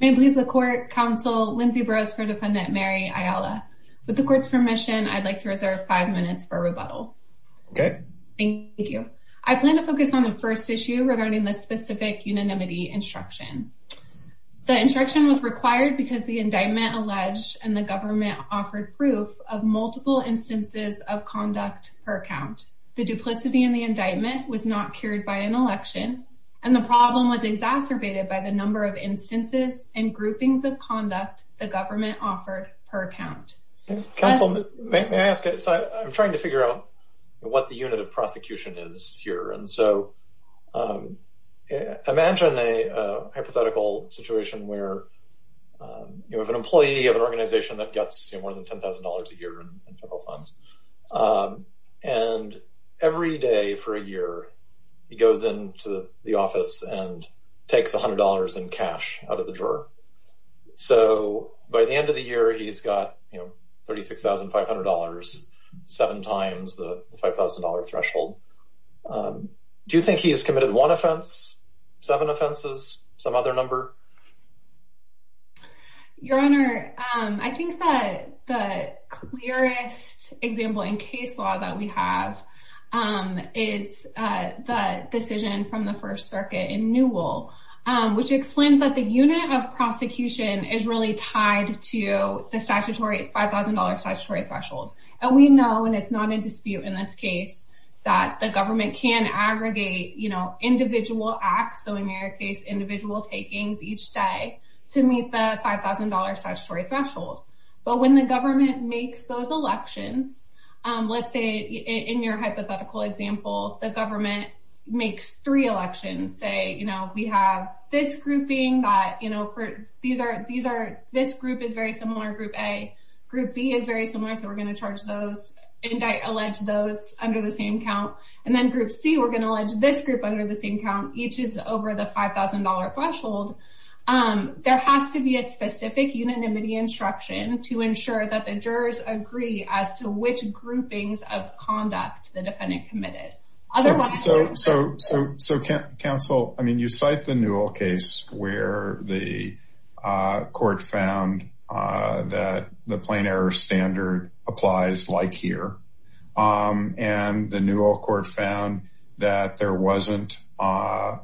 May it please the Court, Counsel, Lindsay Brosford, Defendant Mary Ayala. With the Court's permission, I'd like to reserve five minutes for rebuttal. Okay. Thank you. I plan to focus on the first issue regarding the specific unanimity instruction. The instruction was required because the indictment alleged and the government offered proof of multiple instances of conduct per count. The duplicity in the indictment was not cured by an election, and the problem was exacerbated by the number of instances and groupings of conduct the government offered per count. Counsel, may I ask, I'm trying to figure out what the unit of prosecution is here. Imagine a hypothetical situation where you have an employee of an organization that gets more than $10,000 a year in federal funds, and every day for a year he goes into the office and takes $100 in cash out of the drawer. So by the end of the year, he's got $36,500, seven times the $5,000 threshold. Do you think he has committed one offense, seven offenses, some other number? Your Honor, I think that the clearest example in case law that we have is the decision from the First Circuit in Newell, which explains that the unit of prosecution is really tied to the statutory $5,000 threshold. And we know, and it's not in dispute in this case, that the government can aggregate individual acts. So in your case, individual takings each day to meet the $5,000 statutory threshold. But when the government makes those elections, let's say in your hypothetical example, the government makes three elections, say, you know, we have this grouping that, you know, this group is very similar, group A, group B is very similar. So we're going to charge those, allege those under the same count. And then group C, we're going to allege this group under the same count. Each is over the $5,000 threshold. There has to be a specific unanimity instruction to ensure that the jurors agree as to which groupings of conduct the defendant committed. So, counsel, I mean, you cite the Newell case where the court found that the plain error standard applies like here. And the Newell court found that there wasn't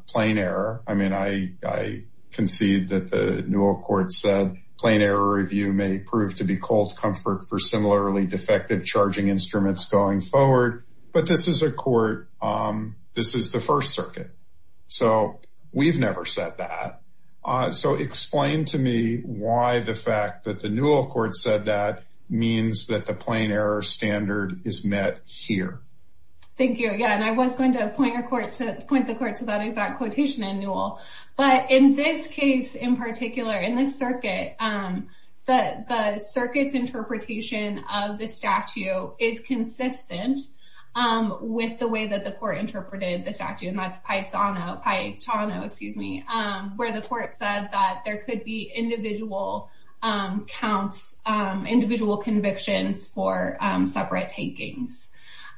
plain error. I mean, I concede that the Newell court said plain error review may prove to be cold comfort for similarly defective charging instruments going forward. But this is a court, this is the First Circuit. So we've never said that. So explain to me why the fact that the Newell court said that means that the plain error standard is met here. Thank you. Yeah, and I was going to point the court to that exact quotation in Newell. But in this case, in particular, in this circuit, the circuit's interpretation of the statute is consistent with the way that the court interpreted the statute. And that's Paisano, where the court said that there could be individual counts, individual convictions for separate takings.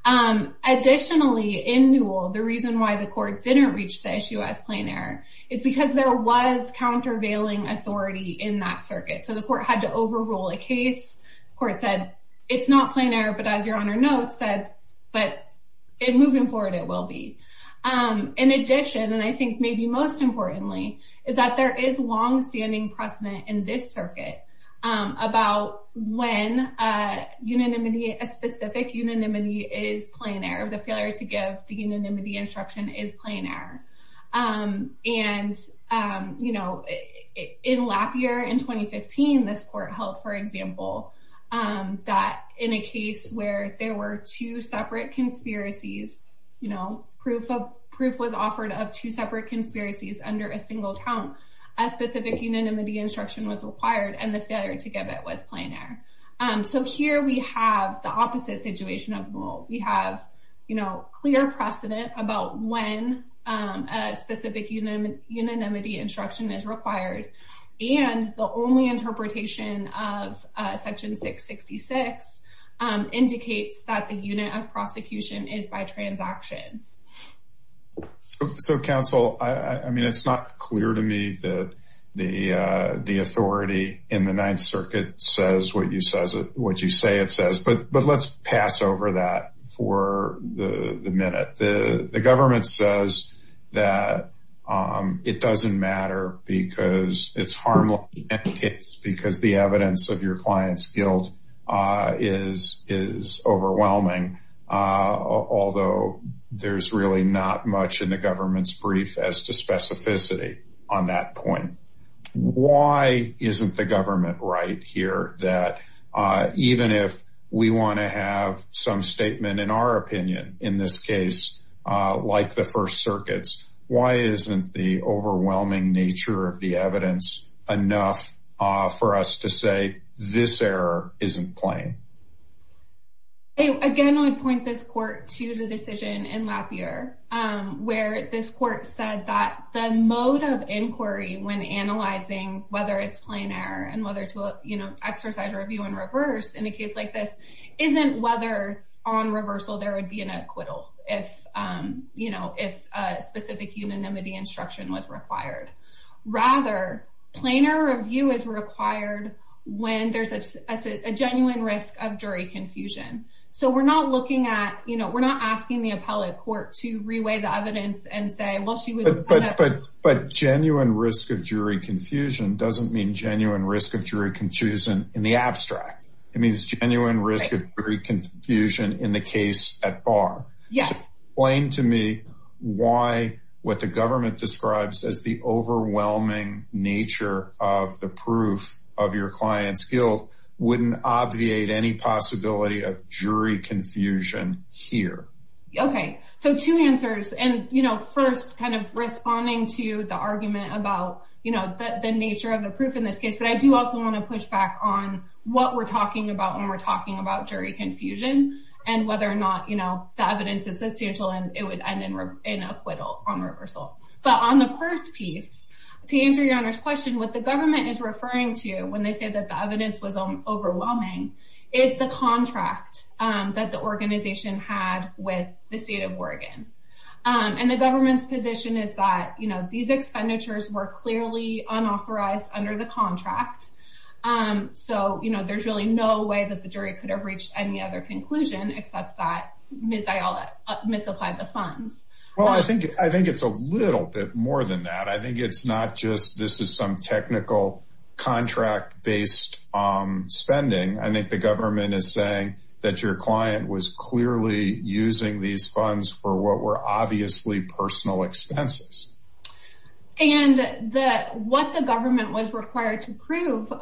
Additionally, in Newell, the reason why the court didn't reach the issue as plain error is because there was countervailing authority in that circuit. So the court had to overrule a case. The court said, it's not plain error. But as Your Honor notes, but in moving forward, it will be. In addition, and I think maybe most importantly, is that there is longstanding precedent in this circuit about when a unanimity, a specific unanimity is plain error. The failure to give the unanimity instruction is plain error. And, you know, in Lapierre in 2015, this court held, for example, that in a case where there were two separate conspiracies, you know, proof was offered of two separate conspiracies under a single count, a specific unanimity instruction was required. And the failure to give it was plain error. So here we have the opposite situation of Newell. We have, you know, clear precedent about when a specific unanimity instruction is required. And the only interpretation of section 666 indicates that the unit of prosecution is by transaction. So, counsel, I mean, it's not clear to me that the authority in the Ninth Circuit says what you say it says, but let's pass over that for the minute. The government says that it doesn't matter because it's harmless in any case, because the evidence of your client's guilt is overwhelming. Although there's really not much in the government's brief as to specificity on that point. Why isn't the government right here that even if we want to have some statement, in our opinion, in this case, like the First Circuits, why isn't the overwhelming nature of the evidence enough for us to say this error isn't plain? Again, I would point this court to the decision in Lafayette, where this court said that the mode of inquiry when analyzing whether it's plain error and whether to, you know, exercise review and reverse in a case like this, isn't whether on reversal there would be an acquittal if, you know, if a specific unanimity instruction was required. Rather, plainer review is required when there's a genuine risk of jury confusion. So we're not looking at, you know, we're not asking the appellate court to reweigh the evidence and say, well, she would. But genuine risk of jury confusion doesn't mean genuine risk of jury confusion in the abstract. It means genuine risk of jury confusion in the case at bar. Yes. Explain to me why what the government describes as the overwhelming nature of the proof of your client's guilt wouldn't obviate any possibility of jury confusion here. Okay, so two answers. And, you know, first, kind of responding to the argument about, you know, the nature of the proof in this case. But I do also want to push back on what we're talking about when we're talking about jury confusion and whether or not, you know, the evidence is substantial, and it would end in acquittal on reversal. But on the first piece, to answer your Honor's question, what the government is referring to when they say that the evidence was overwhelming is the contract that the organization had with the state of Oregon. And the government's position is that, you know, these expenditures were clearly unauthorized under the contract. And so, you know, there's really no way that the jury could have reached any other conclusion, except that Ms. Ayala misapplied the funds. Well, I think it's a little bit more than that. I think it's not just this is some technical contract based spending. I think the government is saying that your client was clearly using these funds for what were obviously personal expenses. And what the government was required to prove,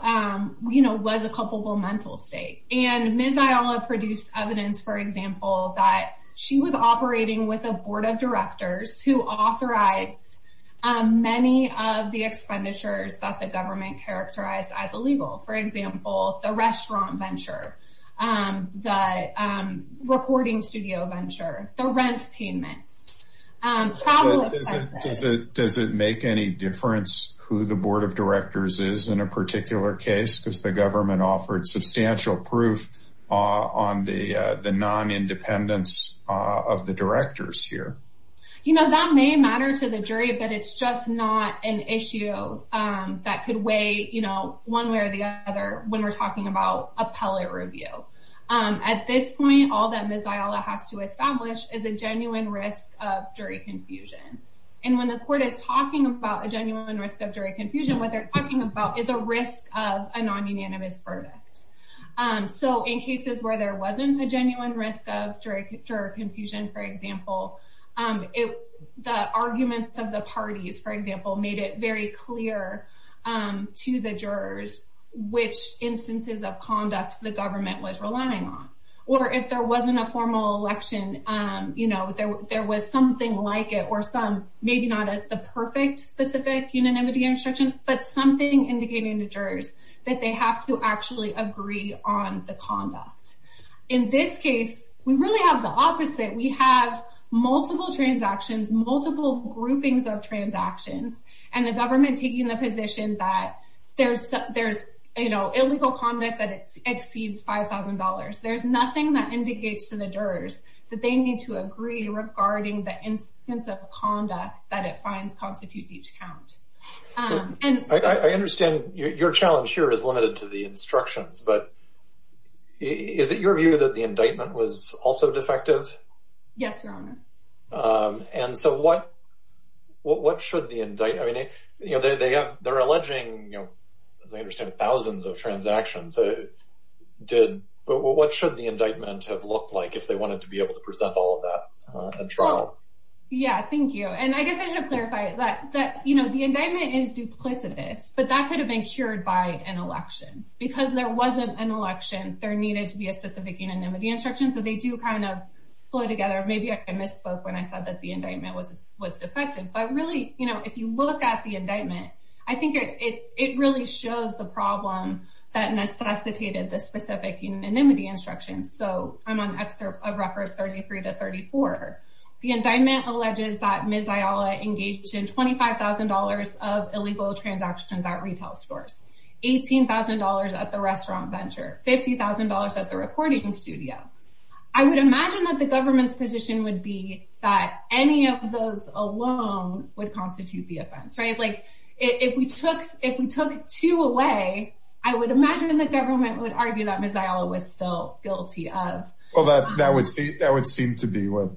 you know, was a culpable mental state. And Ms. Ayala produced evidence, for example, that she was operating with a board of directors who authorized many of the expenditures that the government characterized as illegal. For example, the restaurant venture, the recording studio venture, the rent payments. Probably. Does it make any difference who the board of directors is in a particular case? Because the government offered substantial proof on the non-independence of the directors here. You know, that may matter to the jury, but it's just not an issue that could weigh, you know, one way or the other when we're talking about appellate review. At this point, all that Ms. Ayala has to establish is a genuine risk of jury confusion. And when the court is talking about a genuine risk of jury confusion, what they're talking about is a risk of a non-unanimous verdict. So in cases where there wasn't a genuine risk of jury confusion, for example, the arguments of the parties, for example, made it very clear to the jurors which instances of conduct the government was relying on. Or if there wasn't a formal election, you know, there was something like it, or some, maybe not the perfect specific unanimity instruction, but something indicating to jurors that they have to actually agree on the conduct. In this case, we really have the opposite. We have multiple transactions, multiple groupings of transactions, and the government taking the position that there's, you know, illegal conduct that exceeds $5,000. There's nothing that indicates to the jurors that they need to agree regarding the instance of conduct that it finds constitutes each count. And I understand your challenge here is limited to the instructions, but is it your view that the indictment was also defective? Yes, Your Honor. And so what should the indict... I mean, you know, they're alleging, you know, as I understand it, thousands of transactions. But what should the indictment have looked like if they wanted to be able to present all of that in trial? Yeah, thank you. And I guess I should clarify that, you know, the indictment is duplicitous, but that could have been cured by an election. Because there wasn't an election, there needed to be a specific unanimity instruction. So they do kind of flow together. Maybe I misspoke when I said that the indictment was defective. But really, you know, if you look at the indictment, I think it really shows the problem that necessitated the specific unanimity instruction. So I'm on excerpt of record 33 to 34. The indictment alleges that Ms. Ayala engaged in $25,000 of illegal transactions at retail stores, $18,000 at the restaurant venture, $50,000 at the recording studio. I would imagine that the government's position would be that any of those alone would constitute the offense, right? Like, if we took two away, I would imagine the government would argue that Ms. Ayala was still guilty of... Well, that would seem to be what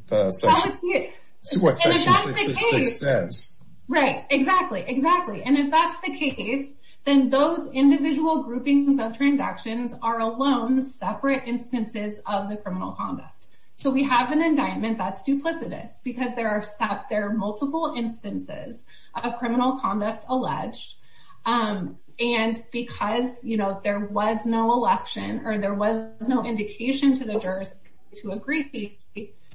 section 66 says. Right, exactly, exactly. And if that's the case, then those individual groupings of transactions are alone separate instances of the criminal conduct. So we have an indictment that's duplicitous because there are multiple instances of criminal conduct alleged. And because, you know, there was no election or there was no indication to the jurors to agree,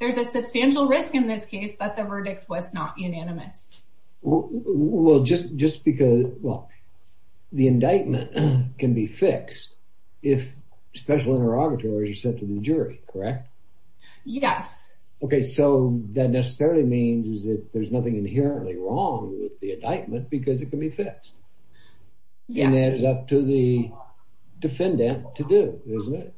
there's a substantial risk in this case that the verdict was not unanimous. Well, just because, well, the indictment can be fixed if special interrogatories are sent to the jury, correct? Yes. Okay, so that necessarily means that there's nothing inherently wrong with the indictment because it can be fixed. And that is up to the defendant to do, isn't it?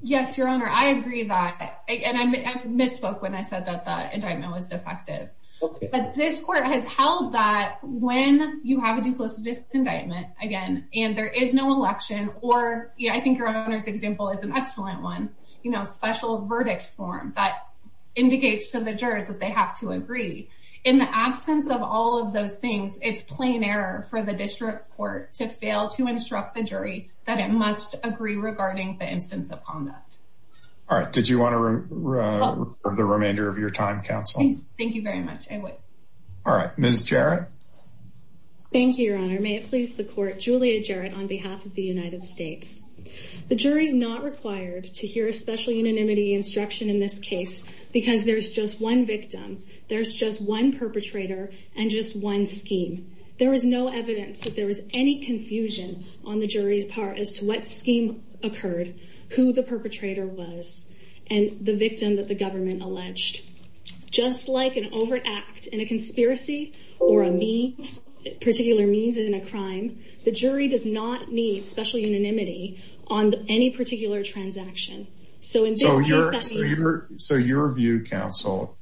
Yes, Your Honor, I agree that. And I misspoke when I said that the indictment was defective. But this court has held that when you have a duplicitous indictment, again, and there is no election, or I think Your Honor's example is an excellent one, you know, special verdict form that indicates to the jurors that they have to agree. In the absence of all of those things, it's plain error for the district court to fail to instruct the jury that it must agree regarding the instance of conduct. All right, did you want to for the remainder of your time, counsel? All right, Ms. Jarrett. Thank you, Your Honor. May it please the court, Julia Jarrett, on behalf of the United States. The jury's not required to hear a special unanimity instruction in this case because there's just one victim, there's just one perpetrator, and just one scheme. There is no evidence that there was any confusion on the jury's part as to what scheme occurred, who the perpetrator was, and the victim that the government alleged. Just like an overt act in a conspiracy or a means, particular means in a crime, the jury does not need special unanimity on any particular transaction. So your view, counsel,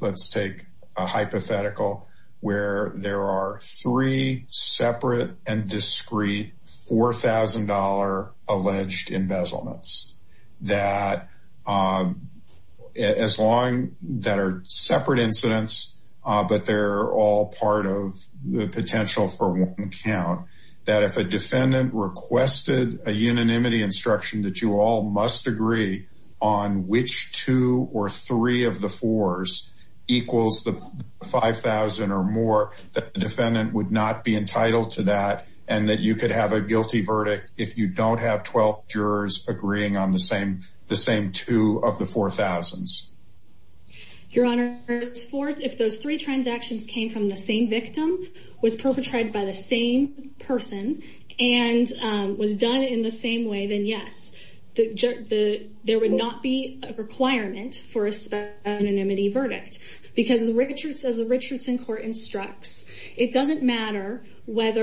let's take a hypothetical where there are three separate and discrete $4,000 alleged embezzlements that as long, that are separate incidents, but they're all part of the potential for one count, that if a defendant requested a unanimity instruction that you all must agree on which two or three of the fours equals the 5,000 or more, that the defendant would not be entitled to that, and that you could have a guilty verdict if you don't have 12 jurors agreeing on the same two of the 4,000s. Your Honor, if those three transactions came from the same victim, was perpetrated by the same person, and was done in the same way, then yes, there would not be a requirement for a special unanimity verdict because as the Richardson Court instructs, it doesn't matter what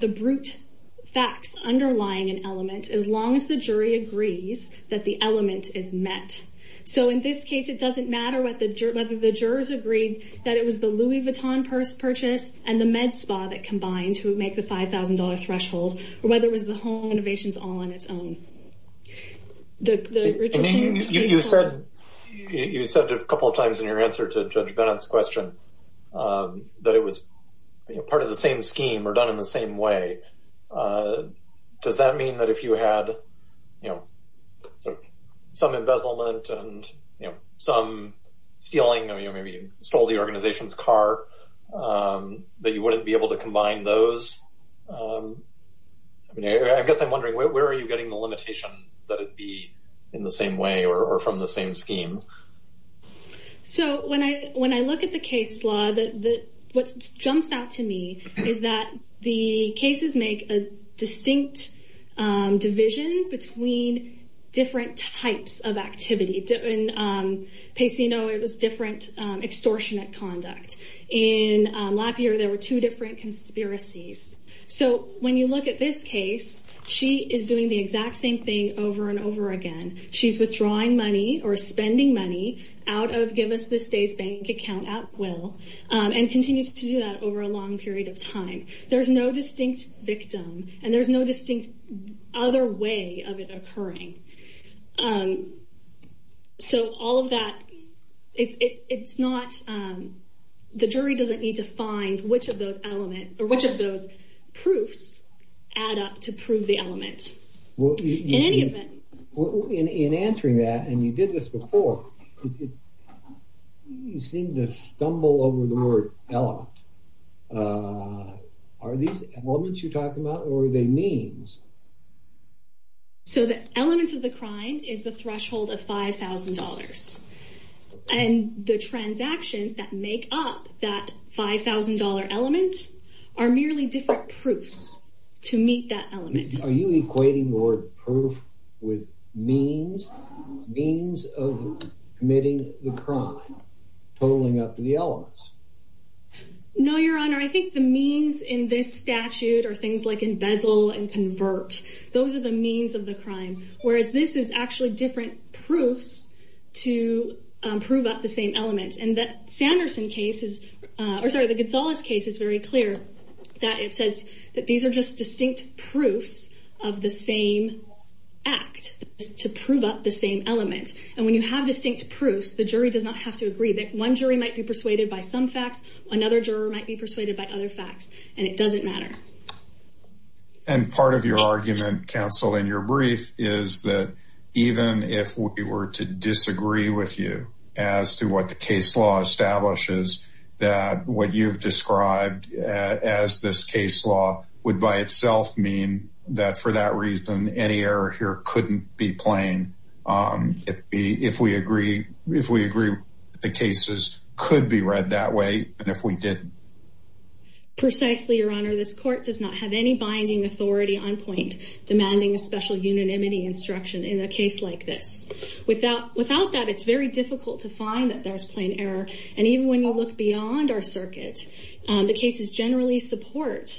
the brute facts underlying an element, as long as the jury agrees that the element is met. So in this case, it doesn't matter whether the jurors agreed that it was the Louis Vuitton purchase and the MedSpa that combined to make the $5,000 threshold, or whether it was the home innovations all on its own. The Richardson- I mean, you said a couple of times in your answer to Judge Bennett's question that it was part of the same scheme or done in the same way. Does that mean that if you had sort of some embezzlement and some stealing, I mean, maybe you stole the organization's car, that you wouldn't be able to combine those? I guess I'm wondering, where are you getting the limitation that it be in the same way or from the same scheme? So when I look at the case law, what jumps out to me is that the cases make a distinct division between different types of activity. Pacey, you know, it was different extortionate conduct. In Lapierre, there were two different conspiracies. So when you look at this case, she is doing the exact same thing over and over again. She's withdrawing money or spending money out of Give Us This Day's bank account at will and continues to do that over a long period of time. There's no distinct victim and there's no distinct other way of it occurring. So all of that, the jury doesn't need to find which of those proofs add up to prove the element. In answering that, and you did this before, you seem to stumble over the word element. Are these elements you're talking about or are they means? So the elements of the crime is the threshold of $5,000. And the transactions that make up that $5,000 element are merely different proofs to meet that element. Are you equating the word proof with means, means of committing the crime, totaling up to the elements? No, Your Honor. I think the means in this statute are things like embezzle and convert. Those are the means of the crime. Whereas this is actually different proofs to prove up the same element. And that Sanderson case is, or sorry, the Gonzalez case is very clear that it says that these are just distinct proofs of the same act to prove up the same element. And when you have distinct proofs, the jury does not have to agree that one jury might be persuaded by some facts, another juror might be persuaded by other facts, and it doesn't matter. And part of your argument, counsel, in your brief is that even if we were to disagree with you as to what the case law establishes, that what you've described as this case law would by itself mean that for that reason, any error here couldn't be plain if we agree the cases could be read that way. And if we didn't. Precisely, Your Honor, this court does not have any binding authority on point demanding a special unanimity instruction in a case like this. Without that, it's very difficult to find that there's plain error. And even when you look beyond our circuit, the cases generally support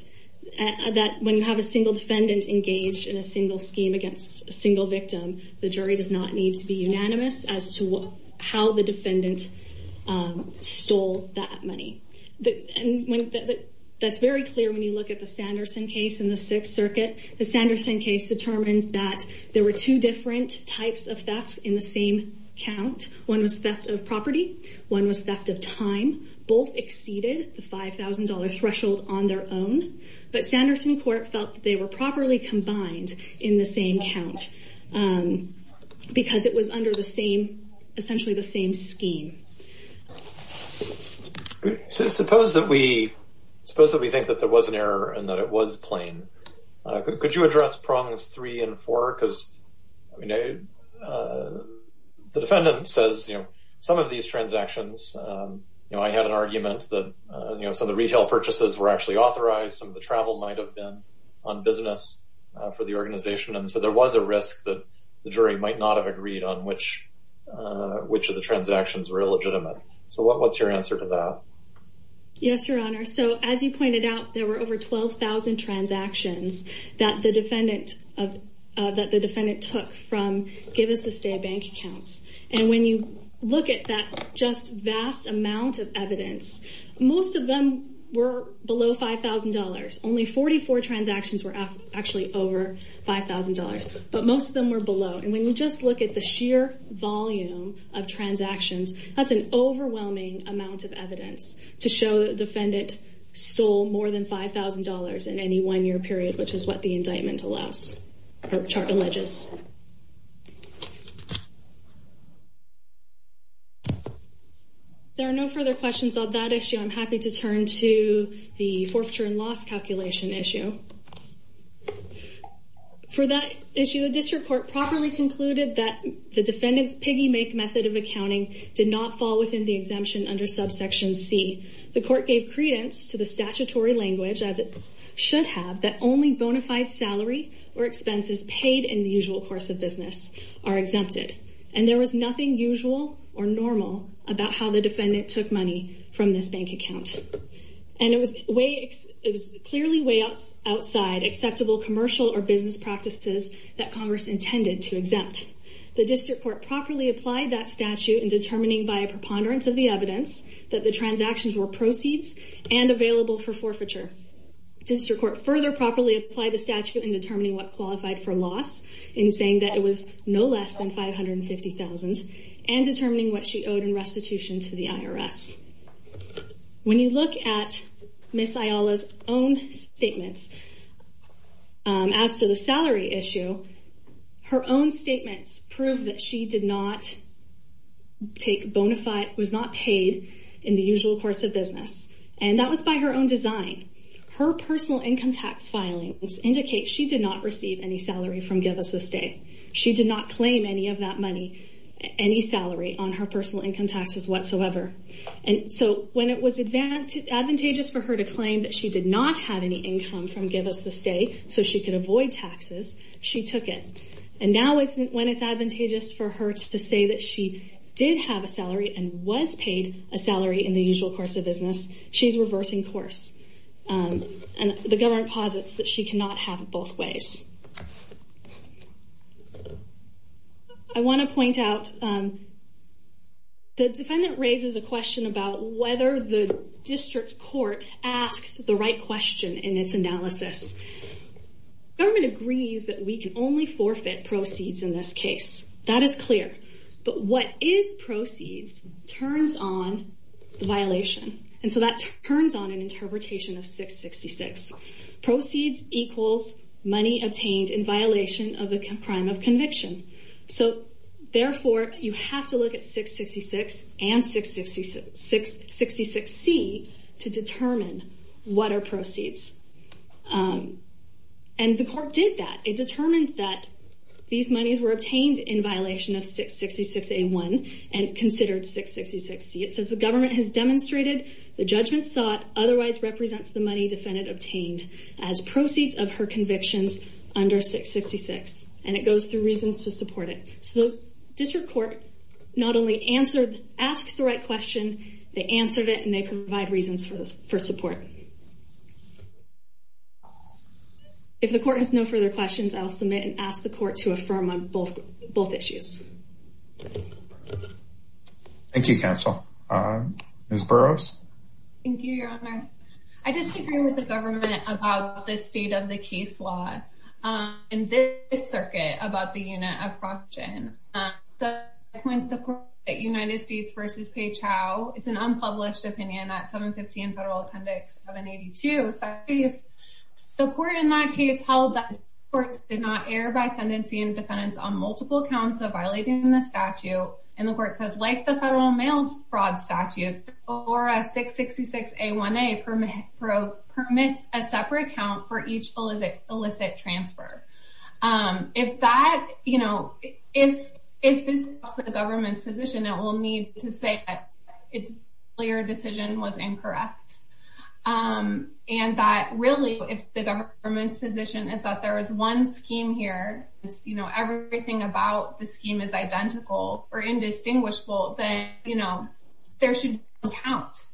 that when you have a single defendant engaged in a single scheme against a single victim, the jury does not need to be unanimous as to how the defendant stole that money. And that's very clear when you look at the Sanderson case in the Sixth Circuit. The Sanderson case determines that there were two different types of theft in the same count. One was theft of property. One was theft of time. Both exceeded the $5,000 threshold on their own. But Sanderson court felt that they were properly combined in the same count because it was under the same, essentially the same scheme. Suppose that we think that there was an error and that it was plain. Could you address prongs three and four? Because the defendant says, some of these transactions, I had an argument that some of the retail purchases were actually authorized. Some of the travel might've been on business for the organization. And so there was a risk that the jury might not have agreed on which of the transactions were illegitimate. So what's your answer to that? Yes, Your Honor. So as you pointed out, there were over 12,000 transactions that the defendant took from Give Us the State Bank accounts. And when you look at that just vast amount of evidence, most of them were below $5,000. Only 44 transactions were actually over $5,000, but most of them were below. that's an overwhelming amount of evidence to show the defendant stole more than $5,000 in any one year period, which is what the indictment allows or chart alleges. There are no further questions on that issue. I'm happy to turn to the forfeiture and loss calculation issue. For that issue, a district court properly concluded that the defendant's piggy make method of accounting did not fall within the exemption under subsection C. The court gave credence to the statutory language, as it should have, that only bona fide salary or expenses paid in the usual course of business are exempted. And there was nothing usual or normal about how the defendant took money from this bank account. And it was clearly way outside acceptable commercial or business practices that Congress intended to exempt. The district court properly applied that statute in determining by a preponderance of the evidence that the transactions were proceeds and available for forfeiture. District court further properly applied the statute in determining what qualified for loss in saying that it was no less than $550,000 and determining what she owed in restitution to the IRS. When you look at Ms. Ayala's own statements as to the salary issue, her own statements prove that she did not take bona fide, was not paid in the usual course of business. And that was by her own design. Her personal income tax filings indicate she did not receive any salary from Give Us a Stay. She did not claim any of that money, any salary on her personal income taxes whatsoever. And so when it was advantageous for her to claim that she did not have any income from Give Us a Stay so she could avoid taxes, she took it. And now when it's advantageous for her to say that she did have a salary and was paid a salary in the usual course of business, she's reversing course. And the government posits that she cannot have both ways. I want to point out, the defendant raises a question about whether the district court asks the right question in its analysis. Government agrees that we can only forfeit proceeds in this case. That is clear. But what is proceeds turns on the violation. And so that turns on an interpretation of 666. Proceeds equals money obtained in violation of a crime of conviction. So therefore, you have to look at 666 and 666-C to determine what are proceeds. And the court did that. It determined that these monies were obtained in violation of 666-A1 and considered 666-C. It says the government has demonstrated the judgment sought otherwise represents the money defendant obtained as proceeds of her convictions under 666. And it goes through reasons to support it. So the district court not only asked the right question, they answered it and they provide reasons for support. If the court has no further questions, I'll submit and ask the court to affirm on both issues. Thank you, counsel. Ms. Burroughs. Thank you, your honor. I disagree with the government about the state of the case law in this circuit about the unit of fraud. And the point that United States versus Pei Chao, it's an unpublished opinion at 715 Federal Appendix 782. So the court in that case held that courts did not err by sentencing defendants on multiple counts of violating the statute. And the court says like the federal mail fraud statute or a 666-A1A permit a separate count for each illicit transfer. If that, you know, if this is the government's position, it will need to say that it's clear decision was incorrect. And that really if the government's position is that there is one scheme here, it's, you know, everything about the scheme is identical or indistinguishable, then, you know, there should count.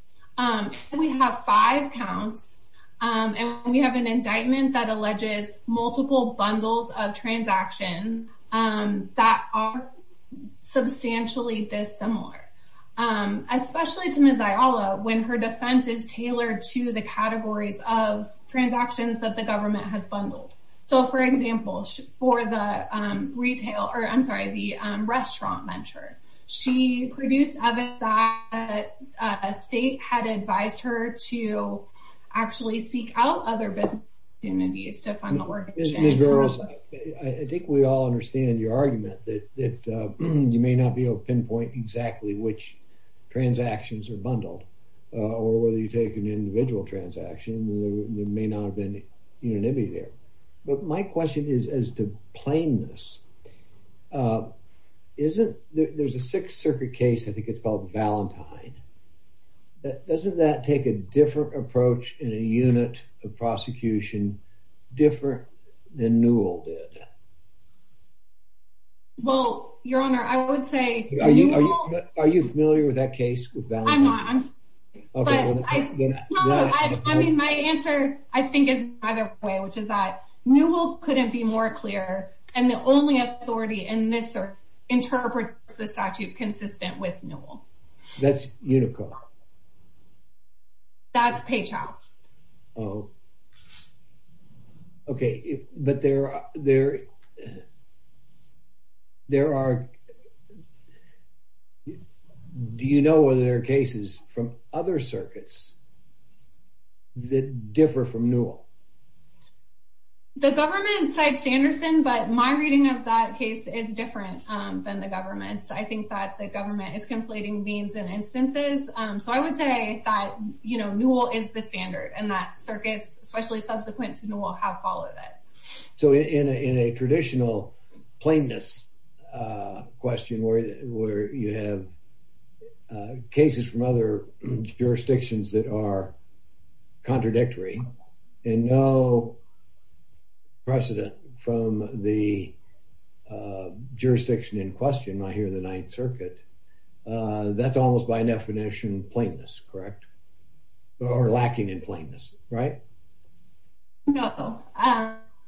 We have five counts and we have an indictment that alleges multiple bundles of transaction that are substantially dissimilar. Especially to Ms. Ayala, when her defense is tailored to the categories of transactions that the government has bundled. So for example, for the retail, or I'm sorry, the restaurant venture, she produced evidence that a state had advised her to actually seek out other business opportunities to fund the work. Ms. Burrows, I think we all understand your argument that you may not be able to pinpoint exactly which transactions are bundled, or whether you take an individual transaction, there may not have been unanimity there. But my question is, as to plainness, isn't there's a Sixth Circuit case, I think it's called Valentine. Doesn't that take a different approach in a unit of prosecution, different than Newell did? Well, Your Honor, I would say... Are you familiar with that case with Valentine? I'm not. I mean, my answer, I think is either way, which is that Newell couldn't be more clear. And the only authority in this interprets the statute consistent with Newell. That's Unico. That's Page House. Oh, okay. There are... Do you know whether there are cases from other circuits that differ from Newell? The government cites Sanderson, but my reading of that case is different than the government's. I think that the government is conflating means and instances. So I would say that Newell is the standard and that circuits, especially subsequent to Newell, have followed it. So in a traditional plainness question where you have cases from other jurisdictions that are contradictory and no precedent from the jurisdiction in question, I hear the Ninth Circuit, that's almost by definition plainness, correct? Or lacking in plainness, right? No.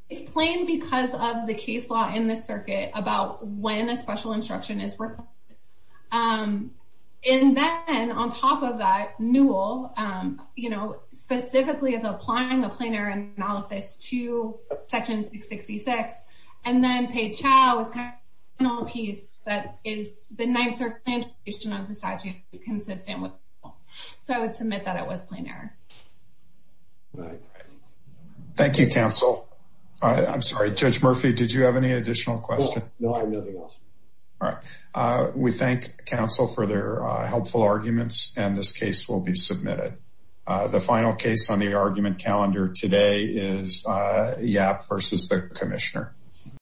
It's plain because of the case law in this circuit about when a special instruction is reflected. And then on top of that, Newell specifically is applying a plain error analysis to section 666. And then Page House is kind of a piece that is the Ninth Circuit's interpretation of the statute is consistent with Newell. So I would submit that it was plain error. All right. Thank you, counsel. I'm sorry, Judge Murphy. Did you have any additional questions? No, I have nothing else. All right. We thank counsel for their helpful arguments and this case will be submitted. The final case on the argument calendar today is Yap versus the commissioner.